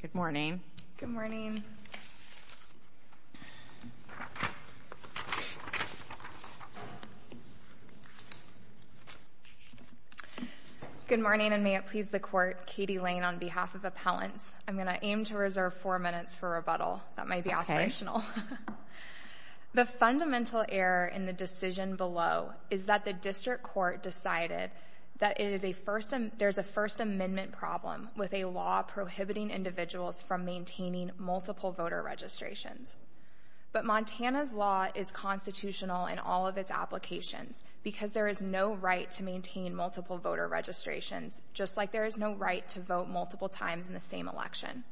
Good morning. Good morning. Good morning and may it please the court, Katie Lane on behalf of appellants, I'm going to aim to reserve four minutes for rebuttal. That might be aspirational. The fundamental error in the decision below is that the district court decided that there's a first amendment problem with a law prohibiting individuals from maintaining multiple voter registrations. But Montana's law is constitutional in all of its applications because there is no right to maintain multiple voter registrations just like there is no right to vote multiple times in the same election.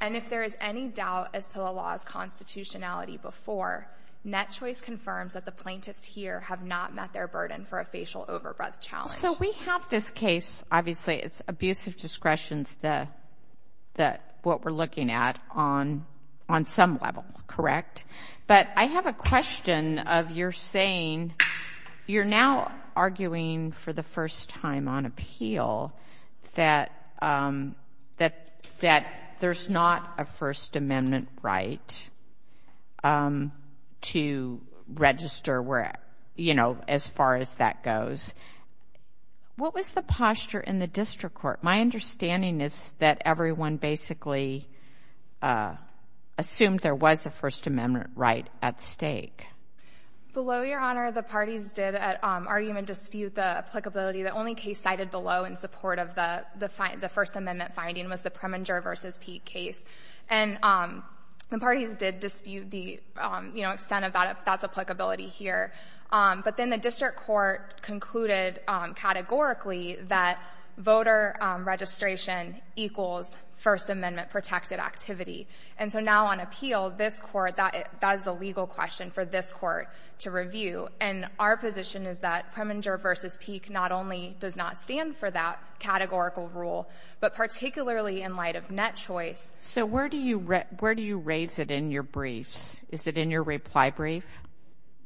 And if there is any doubt as to the law's constitutionality before, net choice confirms that the plaintiffs here have not met their burden for a facial overbirth challenge. So we have this case, obviously it's abusive discretions that what we're looking at on some level, correct? But I have a question of you're saying, you're now arguing for the first time on appeal that there's not a first amendment right to register where, you know, as far as that goes. What was the posture in the district court? My understanding is that everyone basically assumed there was a first amendment right at stake. Below Your Honor, the parties did argue and dispute the applicability. The only case cited below in support of the first amendment finding was the Preminger v. Peete case. And the parties did dispute the, you know, extent of that, if that's applicability here. But then the district court concluded categorically that voter registration equals first amendment protected activity. And so now on appeal, this court, that is a legal question for this court to review. And our position is that Preminger v. Peete not only does not stand for that categorical rule, but particularly in light of net choice. So where do you raise it in your briefs? Is it in your reply brief?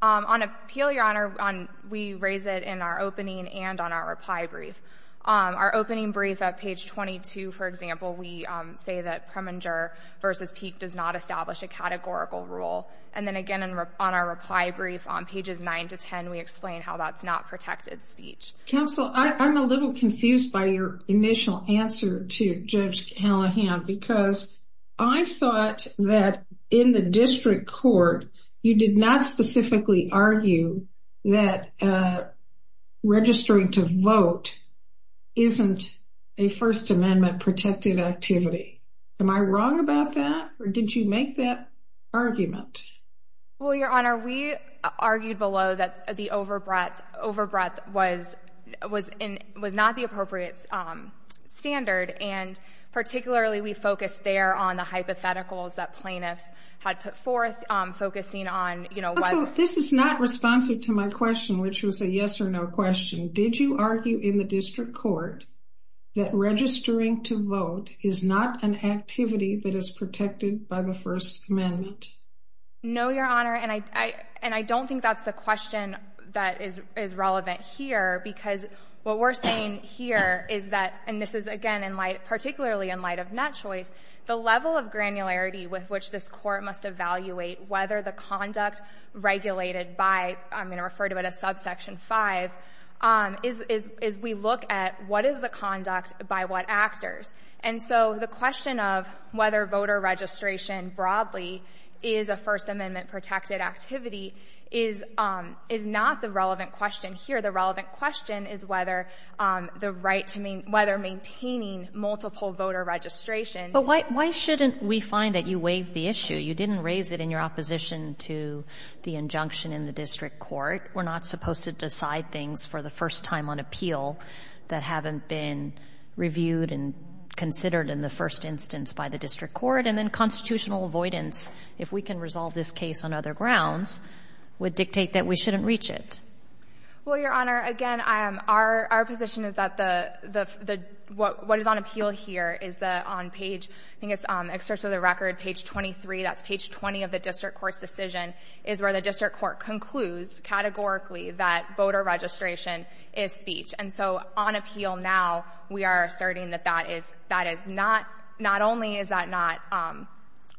On appeal, Your Honor, we raise it in our opening and on our reply brief. Our opening brief at page 22, for example, we say that Preminger v. Peete does not establish a categorical rule. And then again on our reply brief on pages 9 to 10, we explain how that's not protected speech. Counsel, I'm a little confused by your initial answer to Judge Callahan, because I thought that in the district court, you did not specifically argue that registering to vote isn't a first amendment protected activity. Am I wrong about that? Or did you make that argument? Well, Your Honor, we argued below that the overbreath was not the appropriate standard. And particularly, we focused there on the hypotheticals that plaintiffs had put forth focusing on, you know... Counsel, this is not responsive to my question, which was a yes or no question. Did you argue in the district court that registering to vote is not an activity that is protected by the first amendment? No, Your Honor. And I don't think that's the question that is relevant here, because what we're saying here is that, and this is again, particularly in light of net choice, the level of granularity with which this court must evaluate whether the conduct regulated by, I'm going to refer to it as subsection 5, is we look at what is the conduct by what actors. And so the question of whether voter registration broadly is a first amendment protected activity is not the relevant question here. The relevant question is whether the right to main...whether maintaining multiple voter registrations... But why shouldn't we find that you waived the issue? You didn't raise it in your opposition to the injunction in the district court. We're not supposed to decide things for the first time on appeal that haven't been reviewed and considered in the first instance by the district court. And then constitutional avoidance, if we can resolve this case on other grounds, would dictate that we shouldn't reach it. Well, Your Honor, again, our position is that the...what is on appeal here is that on page...I think it's excerpts of the record, page 23, that's page 20 of the district court's decision, is where the district court concludes categorically that voter registration is speech. And so on appeal now, we are asserting that that is...that is not...not only is that not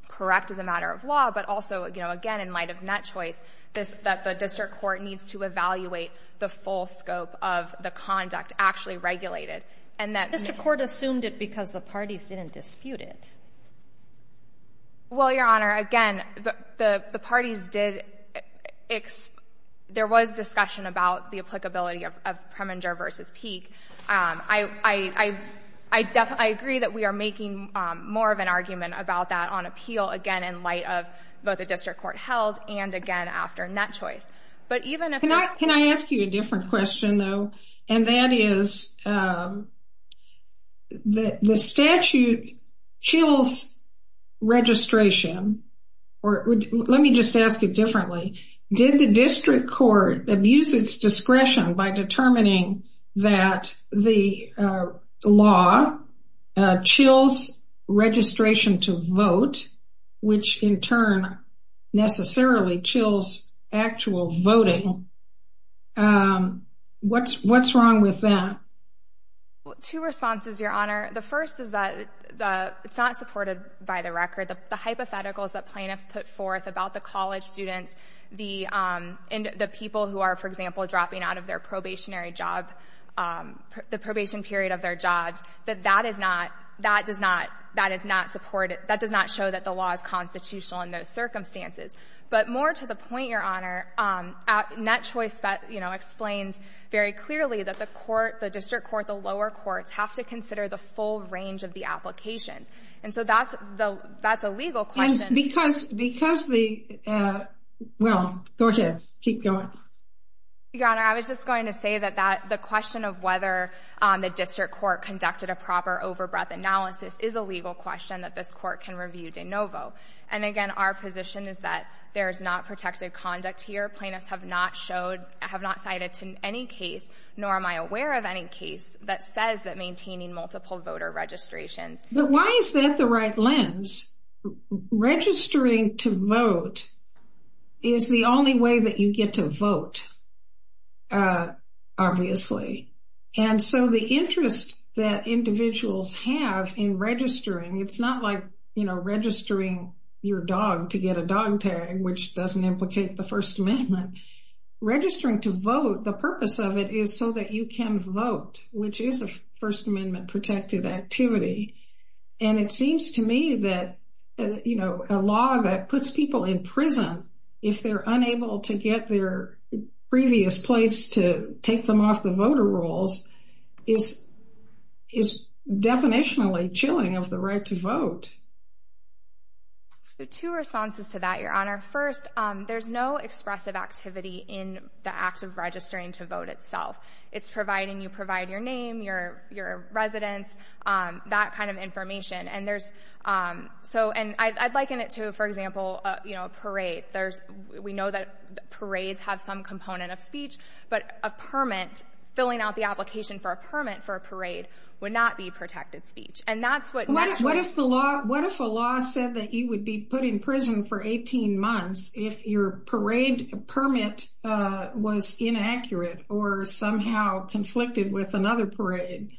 correct as a matter of law, but also, you know, again, in light of net choice, this...that the district court needs to evaluate the full scope of the conduct actually regulated. And that... The district court assumed it because the parties didn't dispute it. Well, Your Honor, again, the parties did...there was discussion about the applicability of Preminger versus Peek. I agree that we are making more of an argument about that on appeal, again, in light of both the district court held and, again, after net choice. But even if... Can I ask you a different question, though? And that is, the statute chills registration, or let me just ask it differently. Did the district court abuse its discretion by determining that the law chills registration to vote, which in turn necessarily chills actual voting? What's wrong with that? Two responses, Your Honor. The first is that it's not supported by the record. The hypotheticals that plaintiffs put forth about the college students, the people who are, for example, dropping out of their probationary job, the probation period of their jobs, that that is not...that does not...that is not supported...that does not show that the law is constitutional in those circumstances. But more to the point, Your Honor, net choice explains very clearly that the court, the district court, the lower courts have to consider the full range of the applications. And so that's a legal question. Because...because the...well, go ahead. Keep going. Your Honor, I was just going to say that the question of whether the district court conducted a proper overbreath analysis is a legal question that this court can review de novo. And again, our position is that there is not protected conduct here. Plaintiffs have not showed...have not cited to any case, nor am I aware of any case that says that maintaining multiple voter registrations... But why is that the right lens? Registering to vote is the only way that you get to vote, obviously. And so the interest that individuals have in registering, it's not like, you know, registering your dog to get a dog tag, which doesn't implicate the First Amendment. Registering to vote, the purpose of it is so that you can vote, which is a First Amendment protected activity. And it seems to me that, you know, a law that puts people in prison if they're unable to get their previous place to take them off the voter rolls is...is definitionally chilling of the right to vote. So two responses to that, Your Honor. First, there's no expressive activity in the act of registering to vote itself. It's providing...you provide your name, your residence, that kind of information. And there's...so...and I'd liken it to, for example, you know, a parade. We know that parades have some component of speech, but a permit, filling out the application for a permit for a parade would not be protected speech. And that's what... What if the law...what if a law said that you would be put in prison for 18 months if your parade permit was inaccurate or somehow conflicted with another parade?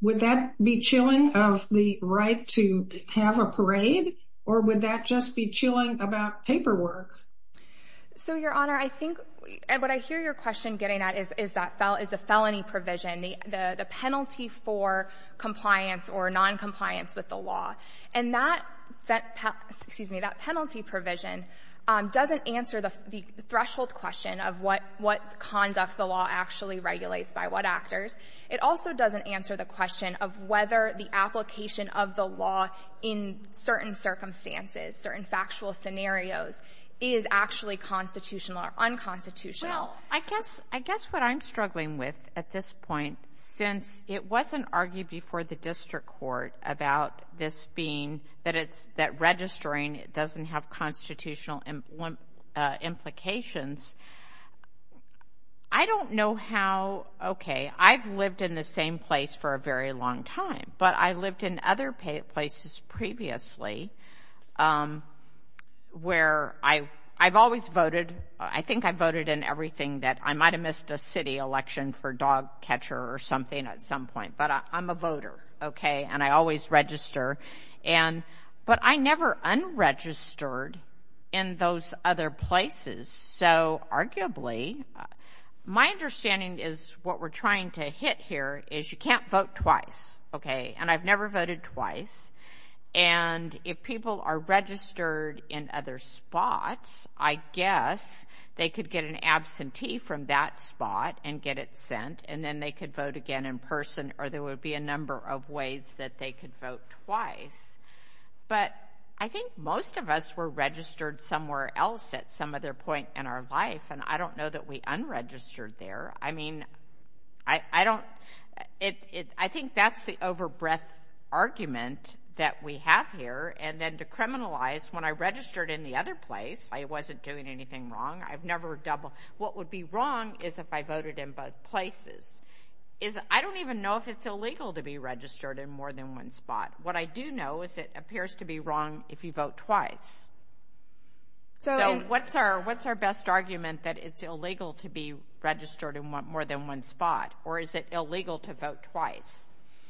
Would that be chilling of the right to have a parade, or would that just be chilling about paperwork? So Your Honor, I think...and what I hear your question getting at is that...is the felony provision, the penalty for compliance or noncompliance with the law. And that...excuse me, that penalty provision doesn't answer the threshold question of what conduct the law actually regulates by what actors. It also doesn't answer the question of whether the application of the law in certain circumstances, certain factual scenarios, is actually constitutional or unconstitutional. Well, I guess what I'm struggling with at this point, since it wasn't argued before the district court about this being...that it's...that registering doesn't have constitutional implications, I don't know how...okay, I've lived in the same place for a very long time, but I lived in other places previously where I've always voted. I think I voted in everything that...I might have missed a city election for dog catcher or something at some point, but I'm a voter, okay, and I always register. And...but I never unregistered in those other places, so arguably...my understanding is what we're trying to hit here is you can't vote twice, okay? And I've never voted twice. And if people are registered in other spots, I guess they could get an absentee from that spot and get it sent, and then they could vote again in person, or there would be a number of ways that they could vote twice. But I think most of us were registered somewhere else at some other point in our life, and I don't know that we unregistered there. I mean, I don't...it...it...I think that's the over-breadth argument that we have here. And then to criminalize, when I registered in the other place, I wasn't doing anything wrong. I've never double...what would be wrong is if I voted in both places. Is...I don't even know if it's illegal to be registered in more than one spot. What I do know is it appears to be wrong if you vote twice. So what's our...what's our best argument that it's illegal to be registered in more than one spot, or is it illegal to vote twice?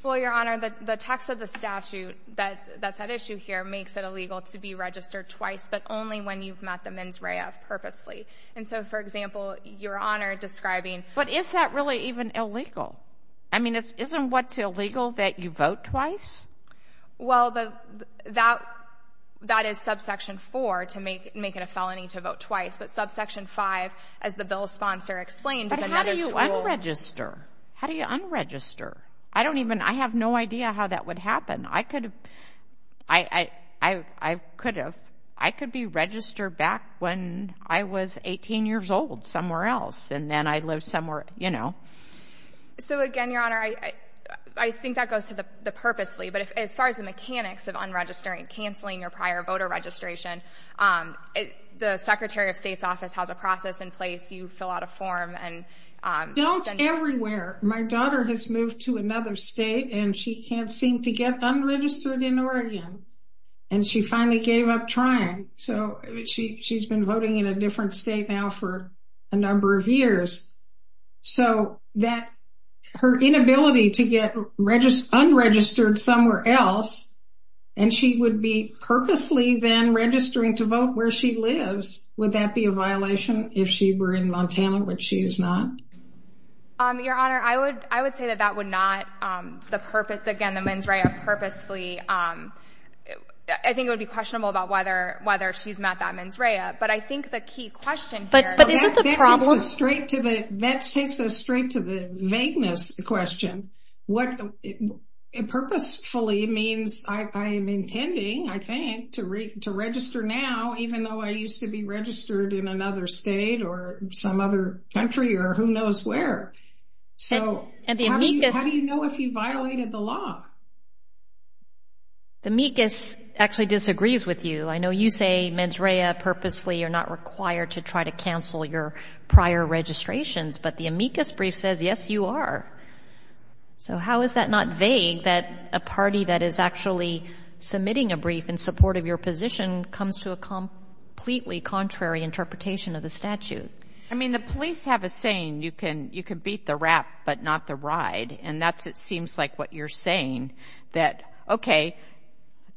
Well, Your Honor, the text of the statute that...that's at issue here makes it illegal to be registered twice, but only when you've met the mens rea purposely. And so, for example, Your Honor describing... But is that really even illegal? I mean, isn't what's illegal that you vote twice? Well, the...that...that is subsection 4 to make...make it a felony to vote twice, but subsection 5, as the bill's sponsor explained, is another tool... But how do you unregister? How do you unregister? I don't even...I have no idea how that would happen. I could...I...I...I could have...I could be registered back when I was 18 years old somewhere else, and then I'd live somewhere, you know. So, again, Your Honor, I...I think that goes to the purposely, but if...as far as the mechanics of unregistering, canceling your prior voter registration, the Secretary of State's office has a process in place. You fill out a form and... Don't everywhere. My daughter has moved to another state and she can't seem to get unregistered in Oregon, and she finally gave up trying. So, she...she's been voting in a different state now for a number of years. So, that...her inability to get regis...unregistered somewhere else, and she would be purposely then registering to vote where she lives, would that be a violation if she were in Montana, which she is not? Your Honor, I would...I would say that that would not...the purpose...again, the mens rea purposely...I think it would be questionable about whether...whether she's met that mens rea, but I think the key question here... But...but isn't the problem... That takes us straight to the...that takes us straight to the vagueness question. What...purposefully means I...I am intending, I think, to reg...to register now, even though I used to be registered in another state or some other country or who knows where. So, how do you...how do you know if you violated the law? The amicus actually disagrees with you. I know you say mens rea purposefully, you're not required to try to cancel your prior registrations, but the amicus brief says, yes, you are. So, how is that not vague that a party that is actually submitting a brief in support of your position comes to a completely contrary interpretation of the statute? I mean, the police have a saying, you can...you can beat the rap, but not the ride, and that's it seems like what you're saying, that, okay,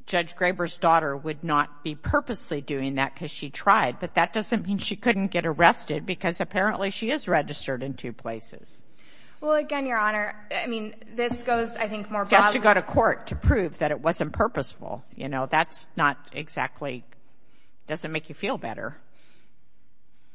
Judge Graber's daughter would not be purposely doing that because she tried, but that doesn't mean she couldn't get arrested because apparently she is registered in two places. Well, again, Your Honor, I mean, this goes, I think, more broadly... Just to go to court to prove that it wasn't purposeful, you know, that's not exactly...doesn't make you feel better.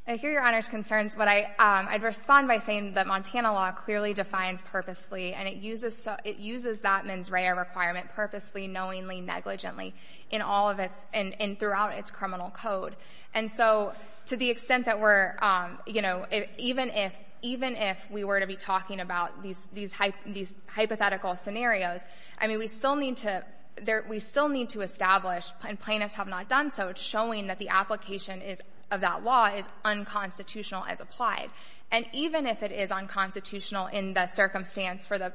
I hear Your Honor's concerns, but I'd respond by saying that Montana law clearly defines purposely and it uses that mens rea requirement purposely, knowingly, negligently, in all of its...and throughout its criminal code. And so, to the extent that we're, you know, even if...even if we were to be talking about these hypothetical scenarios, I mean, we still need to...we still need to establish, and plaintiffs have not done so, showing that the application is...of that law is unconstitutional as applied. And even if it is unconstitutional in the circumstance for the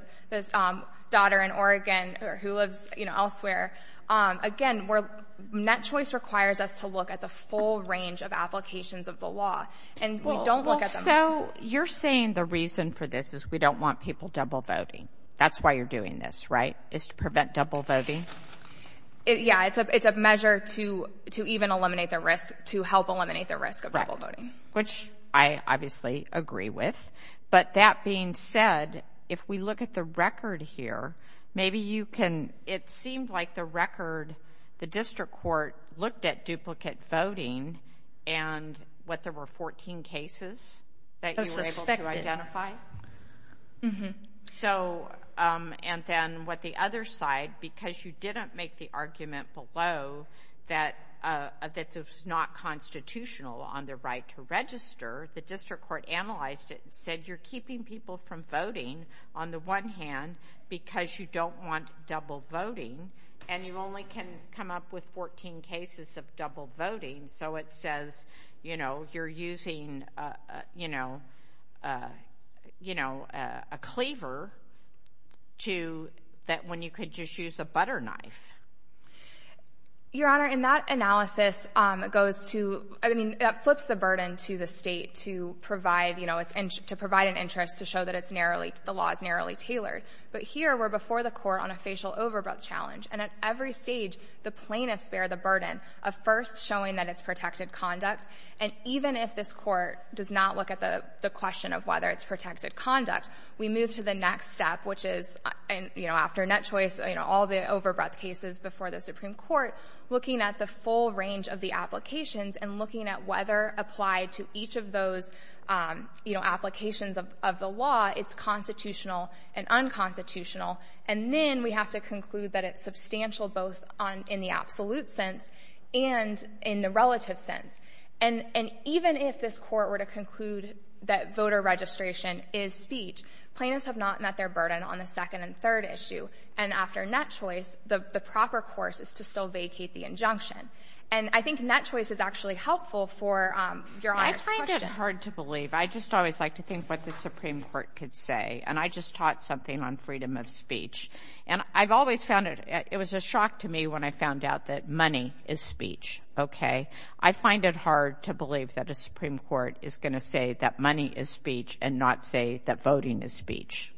daughter in Oregon who lives, you know, elsewhere, again, we're...net choice requires us to look at the full range of applications of the law, and we don't look at them... Well, so, you're saying the reason for this is we don't want people double voting. That's why you're doing this, right, is to prevent double voting? Yeah, it's a measure to even eliminate the risk, to help eliminate the risk of double voting. Right, which I obviously agree with. But that being said, if we look at the record here, maybe you can...it seemed like the record, the district court looked at duplicate voting and what, there were 14 cases that you were able to identify? Mm-hmm. So, and then what the other side, because you didn't make the argument below that it's not constitutional on the right to register, the district court analyzed it and said, you're keeping people from voting on the one hand because you don't want double voting, and you only can come up with 14 cases of double voting, so it says, you know, you're using, you know, a cleaver to, that when you could just use a butter knife. Your Honor, in that analysis, it goes to, I mean, it flips the burden to the state to provide, you know, to provide an interest to show that it's narrowly, the law is narrowly tailored. But here, we're before the court on a facial overgrowth challenge, and at every stage, the plaintiffs bear the burden of first showing that it's protected conduct, and even if this court does not look at the question of whether it's protected conduct, we move to the next step, which is, you know, after net choice, you know, all the overgrowth cases before the Supreme Court, looking at the full range of the applications and looking at whether applied to each of those, you know, applications of the law, it's constitutional and unconstitutional, and then we have to conclude that it's substantial both on, in the absolute sense and in the relative sense. And, and even if this court were to conclude that voter registration is speech, plaintiffs have not met their burden on the second and third issue, and after net choice, the proper course is to still vacate the injunction. And I think net choice is actually helpful for Your Honor's question. I find it hard to believe. I just always like to think what the Supreme Court could say, and I just taught something on freedom of speech. And I've always found it, it was a talk to me when I found out that money is speech, okay? I find it hard to believe that a Supreme Court is going to say that money is speech and not say that voting is speech.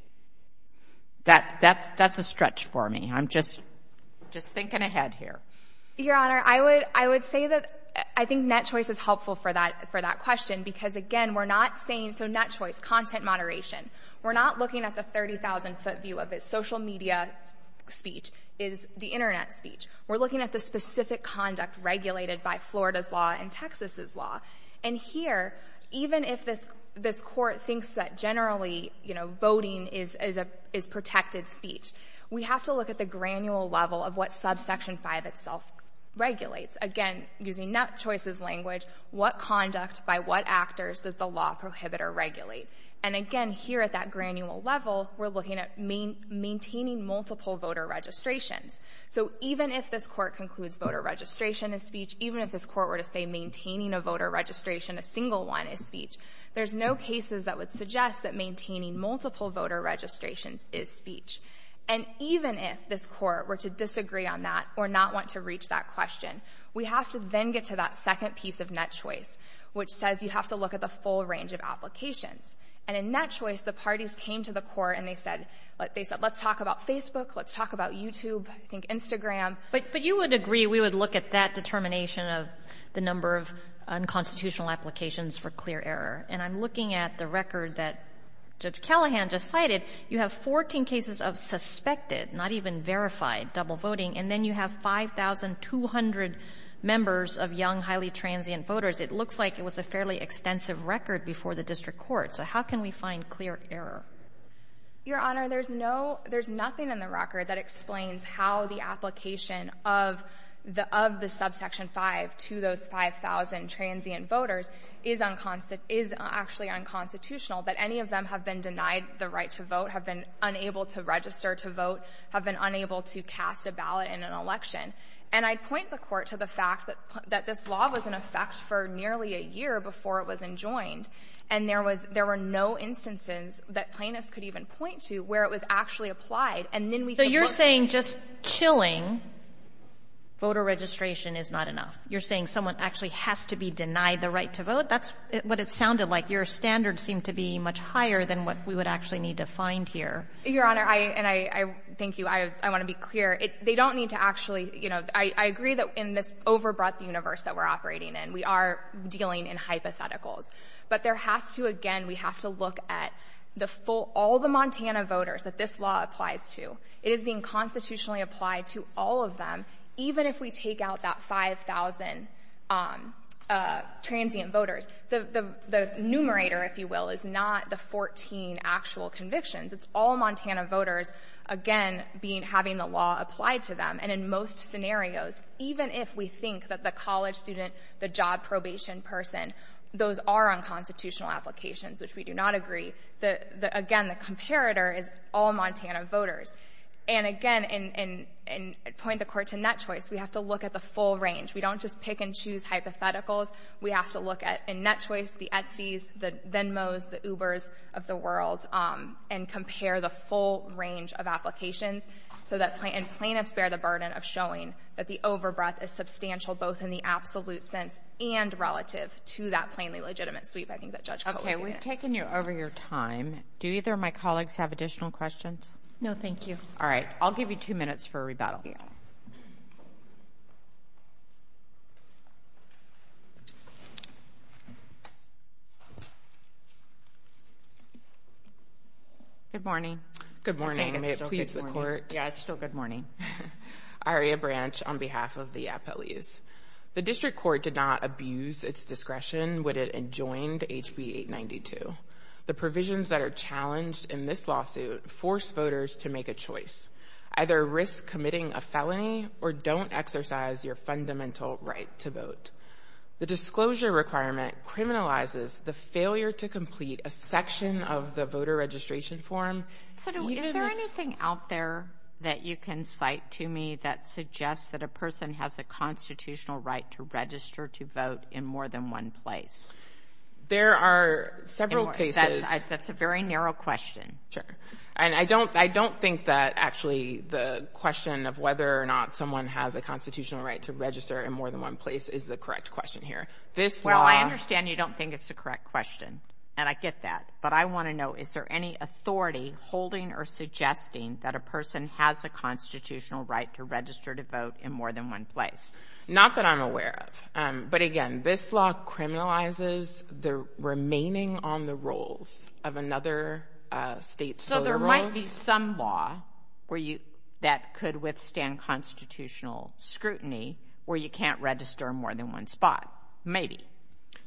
That, that's, that's a stretch for me. I'm just, just thinking ahead here. Your Honor, I would, I would say that I think net choice is helpful for that, for that question, because again, we're not saying, so net choice, content moderation, we're not looking at the 30,000-foot view of it. Social media speech is the Internet speech. We're looking at the specific conduct regulated by Florida's law and Texas's law. And here, even if this, this court thinks that generally, you know, voting is, is a, is protected speech, we have to look at the granule level of what subsection 5 itself regulates. Again, using net choice's language, what conduct by what actors does the law prohibitor regulate? And again, here at that granule level, we're looking at main, maintaining multiple voter registrations. So even if this court concludes voter registration is speech, even if this court were to say maintaining a voter registration, a single one, is speech, there's no cases that would suggest that maintaining multiple voter registrations is speech. And even if this court were to disagree on that or not want to reach that question, we have to then get to that second piece of net choice, which says you have to look at the full range of applications. And in net choice, the parties came to the court and they said, they said, let's talk about Facebook, let's talk about YouTube, I think Instagram. But, but you would agree we would look at that determination of the number of unconstitutional applications for clear error. And I'm looking at the record that Judge Callahan just cited. You have 14 cases of suspected, not even verified, double voting. And then you have 5,200 members of young, highly transient voters. It looks like it was a fairly extensive record before the district court. So how can we find clear error? Your Honor, there's no, there's nothing in the record that explains how the application of the, of the subsection 5 to those 5,000 transient voters is unconstitutional, is actually unconstitutional that any of them have been denied the right to vote, have been unable to register to vote, have been unable to cast a ballot in an election. And I'd point the to the fact that, that this law was in effect for nearly a year before it was enjoined. And there was, there were no instances that plaintiffs could even point to where it was actually applied. And then we can look at it. So you're saying just chilling voter registration is not enough? You're saying someone actually has to be denied the right to vote? That's what it sounded like. Your standards seem to be much higher than what we would actually need to find here. Your Honor, I, and I, I, thank you. I, I want to be clear. They don't need to actually, you know, I, I agree that in this over-broad universe that we're operating in, we are dealing in hypotheticals. But there has to, again, we have to look at the full, all the Montana voters that this law applies to. It is being constitutionally applied to all of them, even if we take out that 5,000 transient voters. The, the, the numerator, if you will, is not the 14 actual convictions. It's all Montana voters, again, being, having the law applied to them. And in most scenarios, even if we think that the college student, the job probation person, those are unconstitutional applications, which we do not agree. The, the, again, the comparator is all Montana voters. And again, and, and, and point the Court to net choice. We have to look at the full range. We don't just pick and choose hypotheticals. We have to look at, in net choice, the Etsys, the Venmos, the Ubers of the world, and compare the full range of applications, so that, and plaintiffs bear the burden of showing that the over-breath is substantial, both in the absolute sense and relative to that plainly legitimate sweep, I think that Judge Coates did. Okay. We've taken you over your time. Do either of my colleagues have additional questions? No, thank you. All right. I'll give you two minutes for a rebuttal. Good morning. Good morning. May it please the Court. Yeah, it's still good morning. Aria Branch on behalf of the appellees. The District Court did not abuse its discretion when it adjoined HB 892. The provisions that are challenged in this lawsuit force voters to make a choice, either risk committing a felony or don't exercise your fundamental right to vote. The disclosure requirement criminalizes the failure to complete a section of the voter registration form. So, is there anything out there that you can cite to me that suggests that a person has a constitutional right to register to vote in more than one place? There are several cases. That's a very narrow question. Sure. And I don't, I don't think that actually the question of whether or not someone has a constitutional right to register in more than one place is the correct question here. This law Well, I understand you don't think it's the correct question. And I get that. But I want to know, is there any authority holding or suggesting that a person has a constitutional right to register to vote in more than one place? Not that I'm aware of. But again, this law criminalizes the remaining on the rolls of other states. So, there might be some law where you, that could withstand constitutional scrutiny where you can't register more than one spot. Maybe.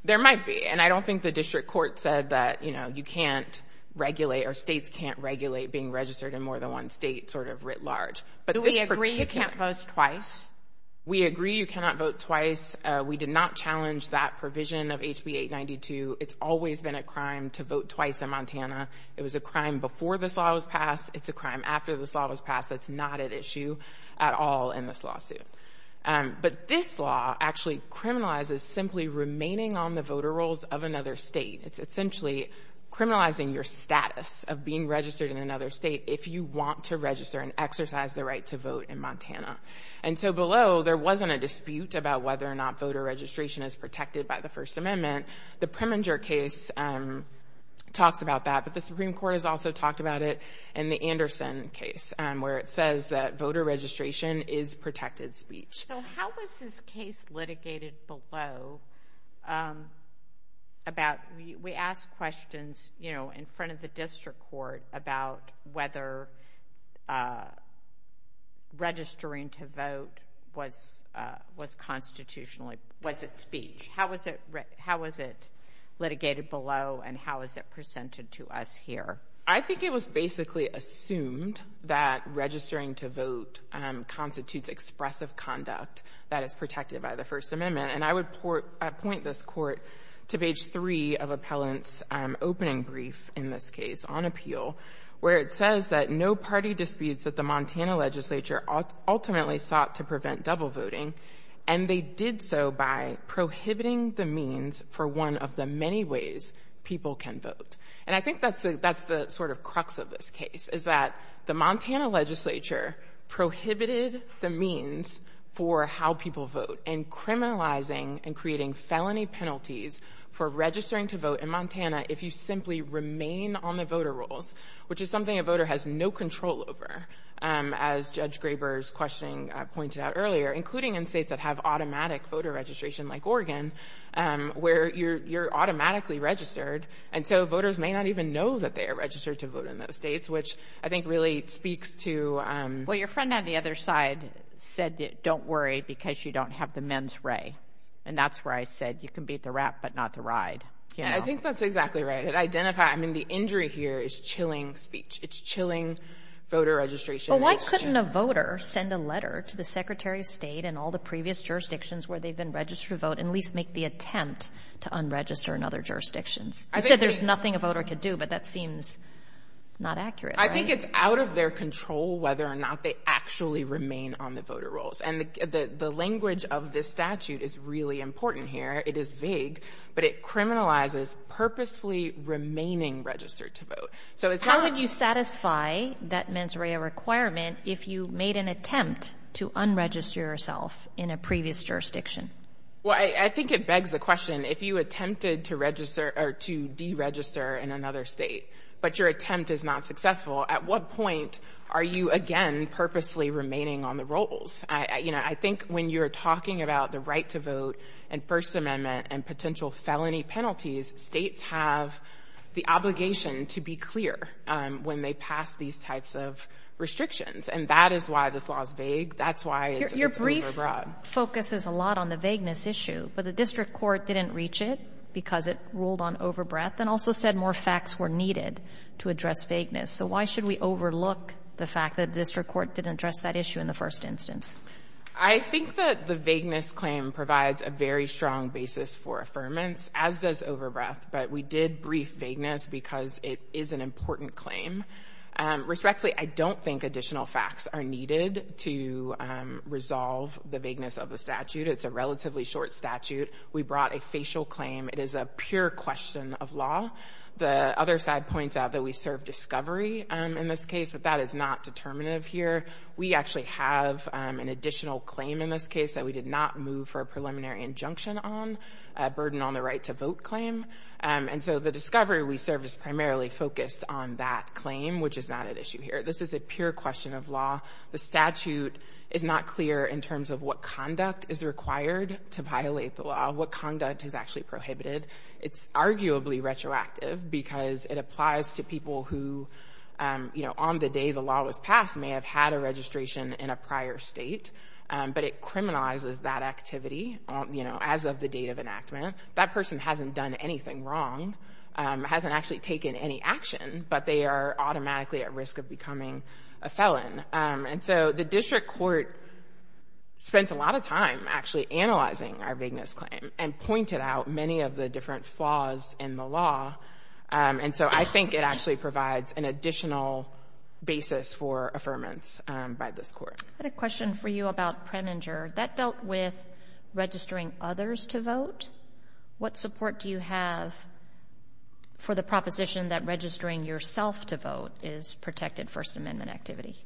There might be. And I don't think the district court said that, you know, you can't regulate or states can't regulate being registered in more than one state sort of writ large. But do we agree you can't vote twice? We agree you cannot vote twice. We did not challenge that provision of HB 892. It's always been a crime to vote twice in Montana. It was a crime before this law was passed. It's a crime after this law was passed. That's not at issue at all in this lawsuit. But this law actually criminalizes simply remaining on the voter rolls of another state. It's essentially criminalizing your status of being registered in another state if you want to register and exercise the right to vote in Montana. And so below, there wasn't a dispute about whether or not voter registration is protected by the First Amendment. The Preminger case talks about that, but the Supreme Court has also talked about it in the Anderson case where it says that voter registration is protected speech. So, how was this case litigated below about, we asked questions, you know, in front of the district court about whether registering to vote was constitutionally, was it speech? How was it litigated below and how is it presented to us here? I think it was basically assumed that registering to vote constitutes expressive conduct that is protected by the First Amendment. And I would point this court to page three of Appellant's opening brief in this case on appeal, where it says that no party disputes that the Montana prohibiting the means for one of the many ways people can vote. And I think that's the sort of crux of this case, is that the Montana legislature prohibited the means for how people vote and criminalizing and creating felony penalties for registering to vote in Montana if you simply remain on the voter rolls, which is something a voter has no control over, as Judge Graber's questioning pointed out earlier, including in states that have automatic voter registration, like Oregon, where you're automatically registered. And so, voters may not even know that they are registered to vote in those states, which I think really speaks to... Well, your friend on the other side said that, don't worry because you don't have the men's ray. And that's where I said, you can beat the rat, but not the ride. Yeah, I think that's exactly right. I mean, the injury here is chilling speech. It's chilling voter registration. Well, why couldn't a voter send a letter to the Secretary of State and all the previous jurisdictions where they've been registered to vote and at least make the attempt to unregister in other jurisdictions? I said there's nothing a voter could do, but that seems not accurate. I think it's out of their control whether or not they actually remain on the voter rolls. And the language of this statute is really important here. It is vague, but it criminalizes purposefully remaining registered to vote. How would you satisfy that mens rea requirement if you made an attempt to unregister yourself in a previous jurisdiction? Well, I think it begs the question, if you attempted to register or to deregister in another state, but your attempt is not successful, at what point are you again purposely remaining on the rolls? I think when you're talking about the right to vote and First Amendment and potential felony penalties, states have the obligation to be clear when they pass these types of restrictions. And that is why this law is vague. That's why it's overbroad. Your brief focuses a lot on the vagueness issue, but the district court didn't reach it because it ruled on overbreath and also said more facts were needed to address vagueness. So why should we overlook the fact that the district court didn't address that issue in the first instance? I think that the vagueness claim provides a very strong basis for affirmance, as does overbreath, but we did brief vagueness because it is an important claim. Respectfully, I don't think additional facts are needed to resolve the vagueness of the statute. It's a relatively short statute. We brought a facial claim. It is a pure question of law. The other side points out that we serve discovery in this case, but that is not determinative here. We actually have an additional claim in this case that we did not move for a preliminary injunction on, a burden on the right to vote claim. And so the discovery we served is primarily focused on that claim, which is not at issue here. This is a pure question of law. The statute is not clear in terms of what conduct is required to violate the law, what conduct is actually prohibited. It's arguably retroactive because it applies to people who, you know, on the day the law was passed, may have had a registration in a prior state, but it criminalizes that activity, you know, as of the date of enactment. That person hasn't done anything wrong, hasn't actually taken any action, but they are automatically at risk of becoming a felon. And so the district court spent a lot of time actually analyzing our vagueness claim and pointed out many of the different flaws in the law. And so I think it actually provides an additional basis for affirmance by this court. I had a question for you about Preminger. That dealt with registering others to vote. What support do you have for the proposition that registering yourself to vote is protected First Amendment activity?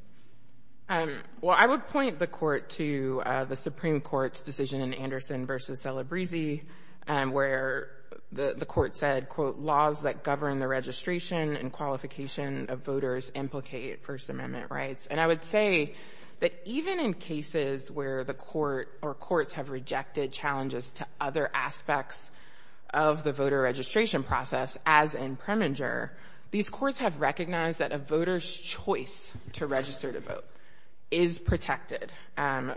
Well, I would point the court to the Supreme Court's decision in Anderson v. Celebrezze where the court said, quote, laws that govern the registration and qualification of voters implicate First Amendment rights. And I would say that even in cases where the court or courts have rejected challenges to other aspects of the voter registration process, as in Preminger, these courts have recognized that a voter's choice to register to vote is protected.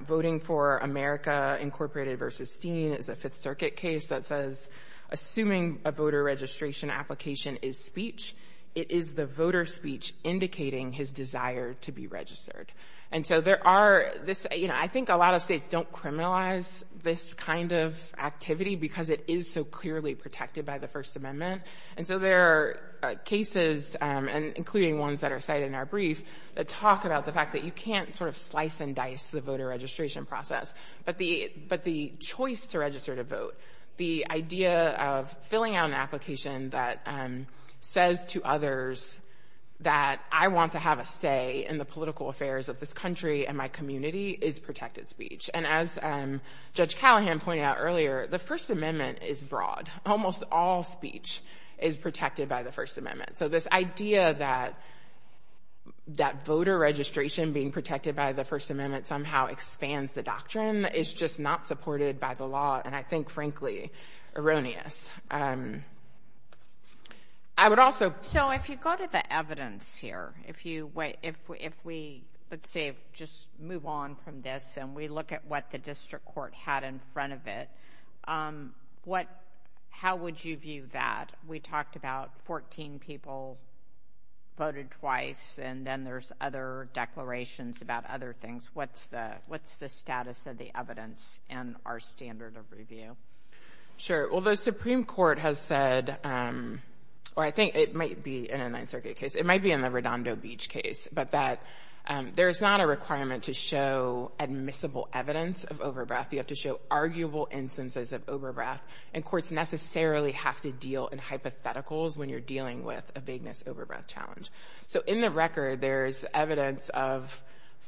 Voting for America Incorporated v. Steen is a Fifth Circuit case that says, assuming a voter registration application is speech, it is the voter's speech indicating his desire to be registered. And so there are this, you know, I think a lot of states don't criminalize this kind of activity because it is so clearly protected by the First Amendment. And so there are cases, including ones that are cited in our brief, that talk about the fact that you can't sort of slice and dice the voter registration process. But the choice to register to vote, the idea of filling out an application that says to others that I want to have a say in the political affairs of this country and my community is protected speech. And as Judge Callahan pointed out earlier, the First Amendment is broad. Almost all speech is protected by the First Amendment. Somehow expands the doctrine. It's just not supported by the law. And I think, frankly, erroneous. I would also... So if you go to the evidence here, if you wait, if we, let's say, just move on from this and we look at what the district court had in front of it, what, how would you view that? We talked about 14 people voted twice and then there's other declarations about other things. What's the status of the evidence in our standard of review? Sure. Well, the Supreme Court has said, or I think it might be in a Ninth Circuit case, it might be in the Redondo Beach case, but that there is not a requirement to show admissible evidence of overbreath. You have to show arguable instances of overbreath. And courts necessarily have to deal in hypotheticals when you're dealing with a vagueness overbreath challenge. So in the record, there's evidence of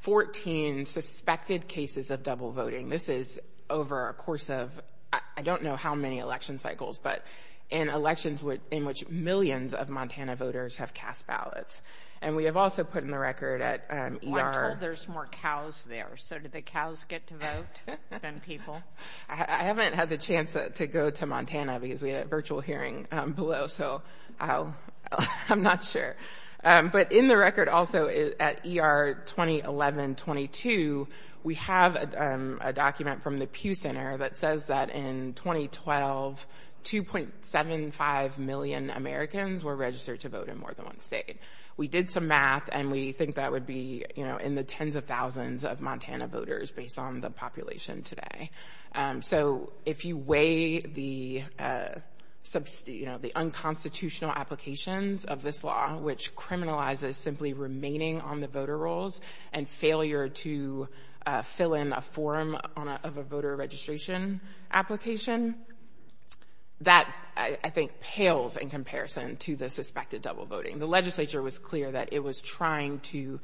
14 suspected cases of double voting. This is over a course of, I don't know how many election cycles, but in elections in which millions of Montana voters have cast ballots. And we have also put in the record at ER... I'm told there's more cows there. So do the cows get to vote than people? I haven't had the chance to go to Montana because we had a virtual hearing below. So I'm not sure. But in the record also at ER 2011-22, we have a document from the Pew Center that says that in 2012, 2.75 million Americans were registered to vote in more than one state. We did some math and we think that would be in the tens of thousands of Montana voters based on the population today. So if you weigh the unconstitutional applications of this law, which criminalizes simply remaining on the voter rolls and failure to fill in a form of a voter registration application, that I think pales in comparison to the suspected double voting. The legislature was clear that it was trying to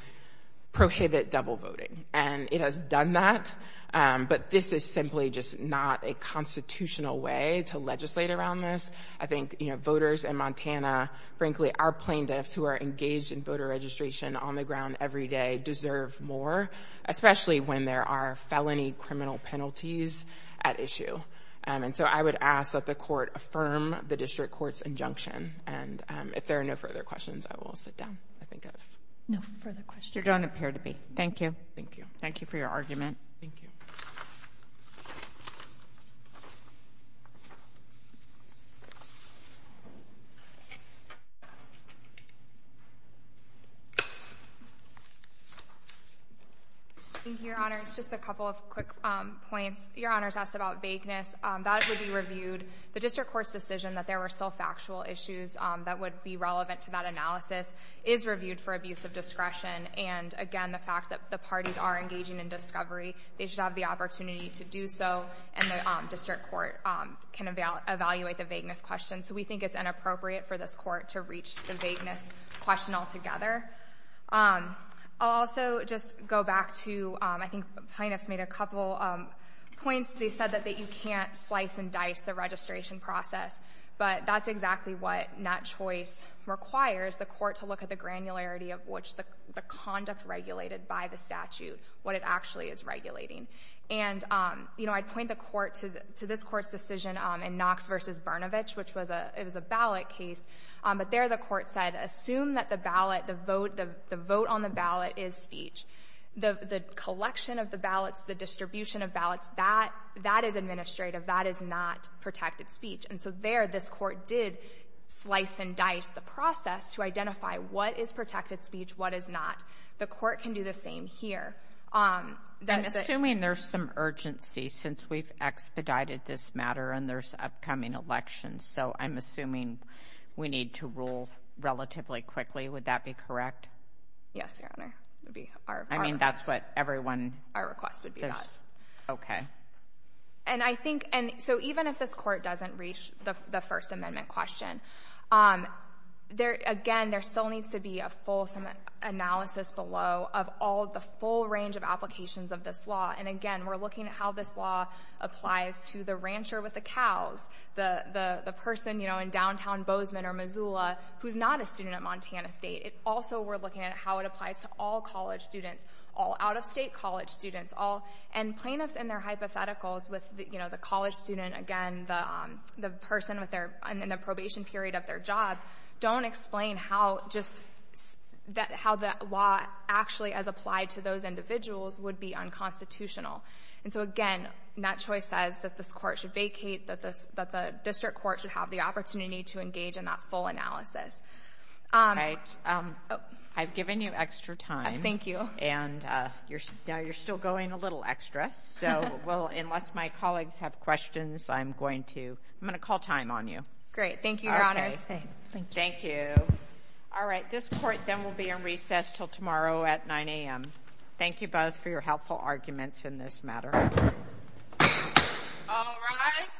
prohibit double voting and it has done that. But this is simply just not a constitutional way to legislate around this. I think voters in Montana, frankly, our plaintiffs who are engaged in voter registration on the ground every day deserve more, especially when there are felony criminal penalties at issue. And so I would ask that the court affirm the district court's injunction. And if there are no further questions, I will sit down. I think I have no further questions. You don't appear to be. Thank you. Thank you. Thank you for your argument. Thank you. Thank you, Your Honor. It's just a couple of quick points. Your Honor's asked about vagueness. That would be reviewed. The district court's decision that there were still factual issues that would be relevant to that analysis is reviewed for abuse of discretion. And again, the fact that the parties are engaging in discovery, they should have the opportunity to do so. And the district court can evaluate the vagueness question. So we think it's inappropriate for this court to reach the vagueness question altogether. I'll also just go back to, I think the plaintiffs made a couple points. They said that you can't slice and dice the registration process. But that's exactly what that choice requires, the court to look at the granularity of which the conduct regulated by the statute, what it actually is regulating. And, you know, I'd point the court to this court's decision in Knox v. Brnovich, which was a ballot case. But there the court said, assume that the ballot, the vote on the ballot is speech. The collection of the ballots, the distribution of ballots, that is administrative. That is not protected speech. And so there, this court did slice and dice the process to identify what is protected speech, what is not. The court can do the same here. I'm assuming there's some urgency since we've expedited this matter and there's upcoming elections. So I'm assuming we need to rule relatively quickly. Would that be correct? Yes, Your Honor. That would be our request. I mean, that's what everyone... That's what our request would be. Okay. And I think, and so even if this court doesn't reach the First Amendment question, again, there still needs to be a full analysis below of all the full range of applications of this law. And again, we're looking at how this law applies to the rancher with the cows, the person, you know, in downtown Bozeman or Missoula, who's not a student at Montana State. Also, we're looking at how it applies to all college students, all out-of-state college students, all... And plaintiffs and their hypotheticals with, you know, the college student, again, the person in the probation period of their job, don't explain how just, how that law actually as applied to those individuals would be unconstitutional. And so again, that choice says that this court should vacate, that the district court should have the opportunity to engage in that full analysis. All right. I've given you extra time. Thank you. And now you're still going a little extra. So, well, unless my colleagues have questions, I'm going to, I'm going to call time on you. Great. Thank you, Your Honors. Okay. Thank you. All right. This court then will be in recess till tomorrow at 9 a.m. Thank you both for your helpful arguments in this matter. All rise.